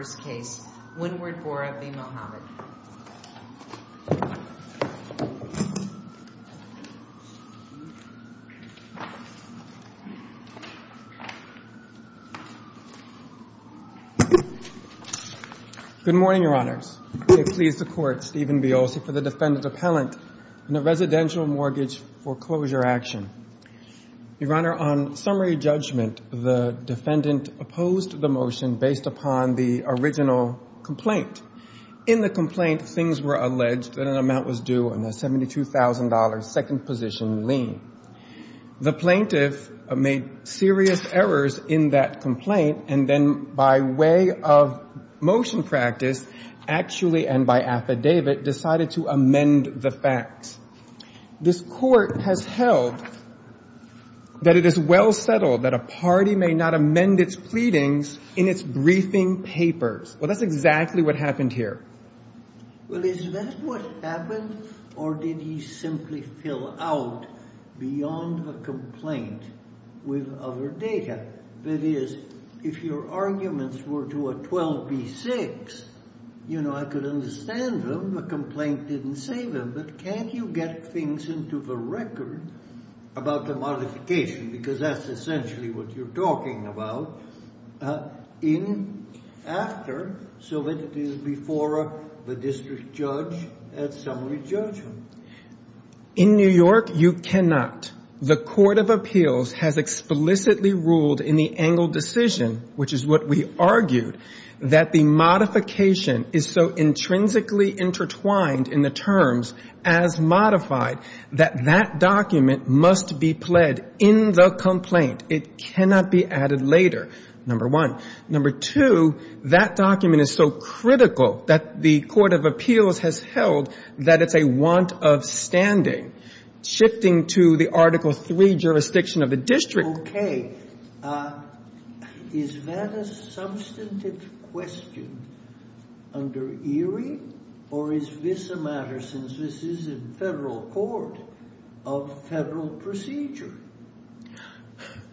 Good morning, Your Honors. It pleases the Court, Stephen Biolsi for the Defendant Appellant in a Residential Mortgage Foreclosure Action. Your Honor, on summary judgment, the Defendant opposed the motion based upon the original complaint. In the complaint, things were alleged that an amount was due on a $72,000 second position lien. The plaintiff made serious errors in that complaint and then by way of motion practice, actually, and by affidavit, decided to amend the facts. This Court has held that it is well settled that a party may not amend its pleadings in its briefing papers. Well, that's exactly what happened here. Well, is that what happened or did he simply fill out beyond the complaint with other data? That is, if your arguments were to a 12B6, you know, I could understand them. The complaint didn't save him. But can't you get things into the record about the modification? Because that's essentially what you're talking about in after so that it is before the district judge at summary judgment. In New York, you cannot. The Court of Appeals has explicitly ruled in the Engle decision, which is what we argued, that the modification is so intrinsically intertwined in the terms as modified that that document must be pled in the complaint. It cannot be added later, number one. Number two, that document is so critical that the Court of Appeals has held that it's a want of standing. Shifting to the Article III jurisdiction of the district. Okay. Is that a substantive question under ERIE or is this a matter, since this is in federal court, of federal procedure?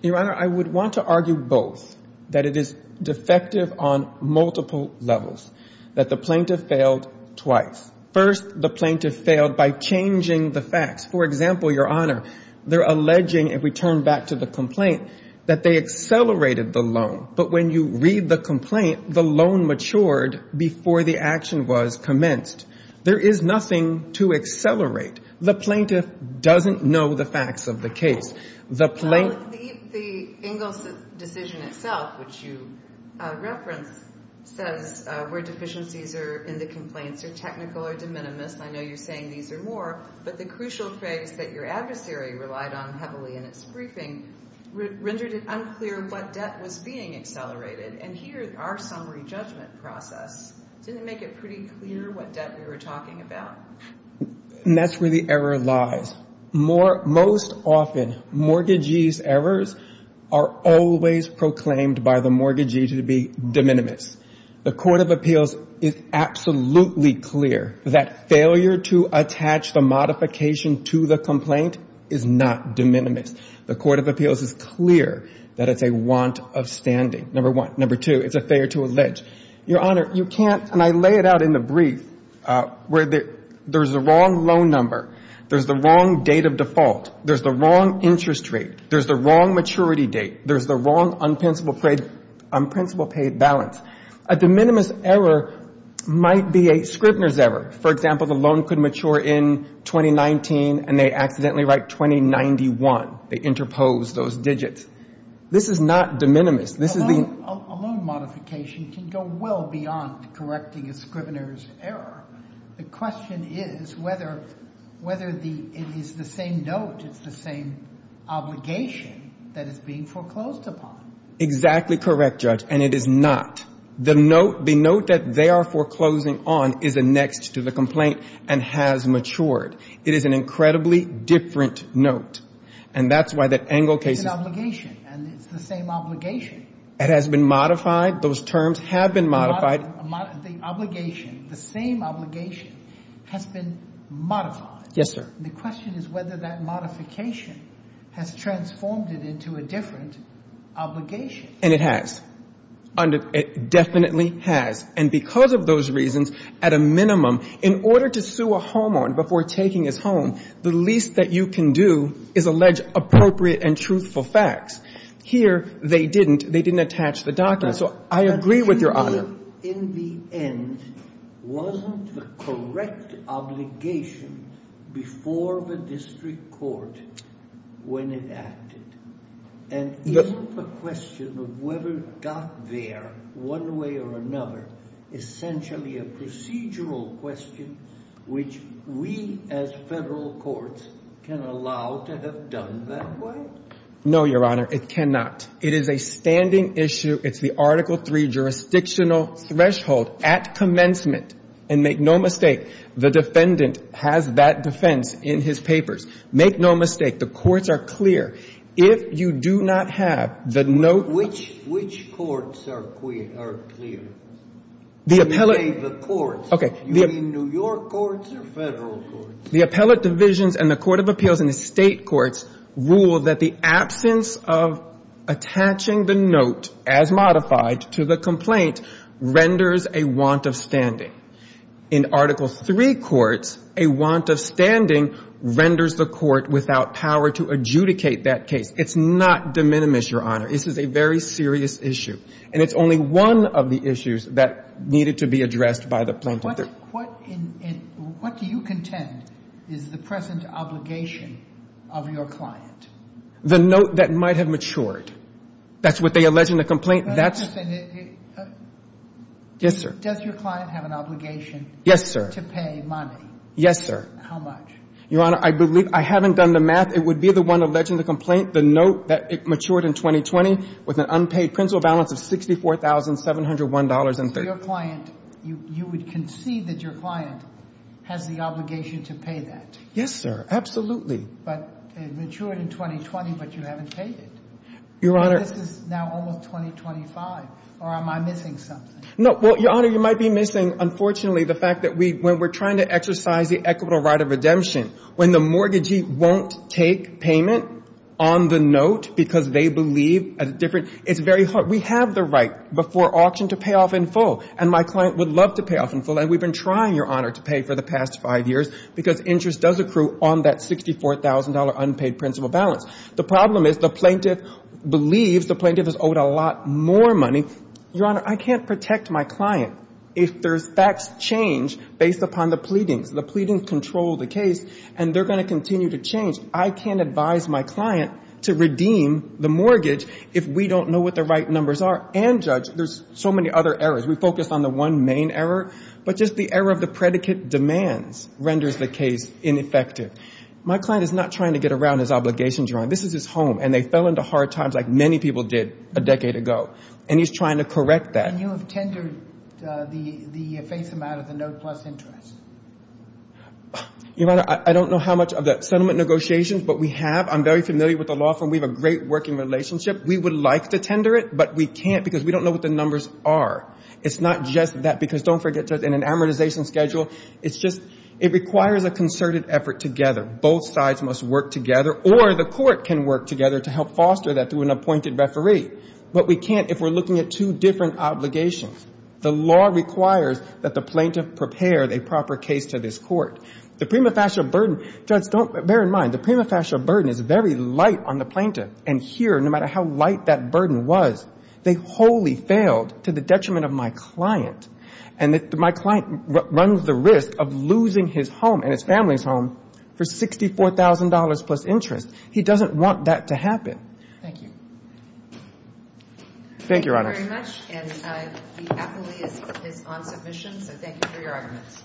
Your Honor, I would want to argue both, that it is defective on multiple levels, that the plaintiff failed twice. First, the plaintiff failed by changing the facts. For example, Your Honor, they're alleging, if we turn back to the complaint, that they accelerated the loan. But when you read the complaint, the loan matured before the action was commenced. There is nothing to accelerate. The plaintiff doesn't know the facts of the case. The Engle decision itself, which you referenced, says where deficiencies are in the complaints are technical or de minimis. I know you're saying these are more, but the crucial phrase that your adversary relied on heavily in its briefing rendered it unclear what debt was being accelerated. And here, our summary judgment process didn't make it pretty clear what debt we were talking about. And that's where the error lies. Most often, mortgagee's errors are always proclaimed by the mortgagee to be de minimis. The Court of Appeals is absolutely clear that failure to attach the modification to the complaint is not de minimis. The Court of Appeals is clear that it's a want of standing, number one. Number two, it's a failure to allege. Your Honor, you can't, and I lay it out in the brief, where there's the wrong loan number, there's the wrong date of default, there's the wrong interest rate, there's the wrong maturity date, there's the wrong unprincipled paid balance. A de minimis error might be a Scribner's error. For example, the loan could mature in 2019, and they accidentally write 2091. They interpose those digits. This is not de minimis. This is the... A loan modification can go well beyond correcting a Scribner's error. The question is whether it is the same note, it's the same obligation that is being foreclosed upon. Exactly correct, Judge, and it is not. The note that they are foreclosing on is annexed to the complaint and has matured. It is an incredibly different note, and that's why that Engel case... It's an obligation, and it's the same obligation. It has been modified. Those terms have been modified. The obligation, the same obligation has been modified. Yes, sir. The question is whether that modification has transformed it into a different obligation. And it has. It definitely has. And because of those reasons, at a minimum, in order to sue a homeowner before taking his home, the least that you can do is allege appropriate and truthful facts. Here, they didn't. They didn't attach the document. So I agree with Your Honor. In the end, wasn't the correct obligation before the district court when it acted? And isn't the question of whether it got there one way or another essentially a procedural question which we as federal courts can allow to have done that way? No, Your Honor, it cannot. It is a issue. It's the Article III jurisdictional threshold at commencement. And make no mistake, the defendant has that defense in his papers. Make no mistake. The courts are clear. If you do not have the note... Which courts are clear? The appellate... You say the courts. Okay. You mean New York courts or federal courts? The appellate divisions and the court of appeals and the state courts rule that the absence of attaching the note as modified to the complaint renders a want of standing. In Article III courts, a want of standing renders the court without power to adjudicate that case. It's not de minimis, Your Honor. This is a very serious issue. And it's only one of the issues that needed to be addressed by the plaintiff. What do you contend is the present obligation of your client? The note that might have matured. That's what they alleged in the complaint. Yes, sir. Does your client have an obligation to pay money? Yes, sir. How much? Your Honor, I believe I haven't done the math. It would be the one alleged in the complaint, the note that it matured in 2020 with an unpaid principal balance of $64,701.30. You would concede that your client has the obligation to pay that? Yes, sir. Absolutely. But it matured in 2020, but you haven't paid it. Your Honor. This is now almost 2025. Or am I missing something? No. Well, Your Honor, you might be missing, unfortunately, the fact that when we're trying to exercise the equitable right of redemption, when the mortgagee won't take payment on the note because they believe a different... It's very hard. We have the right before auction to pay in full. And my client would love to pay off in full. And we've been trying, Your Honor, to pay for the past five years because interest does accrue on that $64,000 unpaid principal balance. The problem is the plaintiff believes the plaintiff has owed a lot more money. Your Honor, I can't protect my client if there's facts change based upon the pleadings. The pleadings control the case, and they're going to continue to change. I can't advise my client to redeem the mortgage if we don't know what the right numbers are and judge. There's so many other errors. We focus on the one main error. But just the error of the predicate demands renders the case ineffective. My client is not trying to get around his obligations, Your Honor. This is his home. And they fell into hard times like many people did a decade ago. And he's trying to correct that. And you have tendered the face amount of the note plus interest. Your Honor, I don't know how much of the settlement negotiations, but we have. I'm very familiar with the law firm. We have a great working relationship. We would like to tender it, but we can't because we don't know what the numbers are. It's not just that because don't forget, Judge, in an amortization schedule, it's just it requires a concerted effort together. Both sides must work together, or the court can work together to help foster that through an appointed referee. But we can't if we're looking at two different obligations. The law requires that the plaintiff prepare a proper case to this court. The prima facie burden, Judge, bear in mind, the prima facie burden is very light on the plaintiff. And here, no matter how light that burden was, they wholly failed to the detriment of my client. And my client runs the risk of losing his home and his family's home for $64,000 plus interest. He doesn't want that to happen. Thank you. Thank you, Your Honor. Thank you very much. And the appellee is on submission, so thank you for your arguments.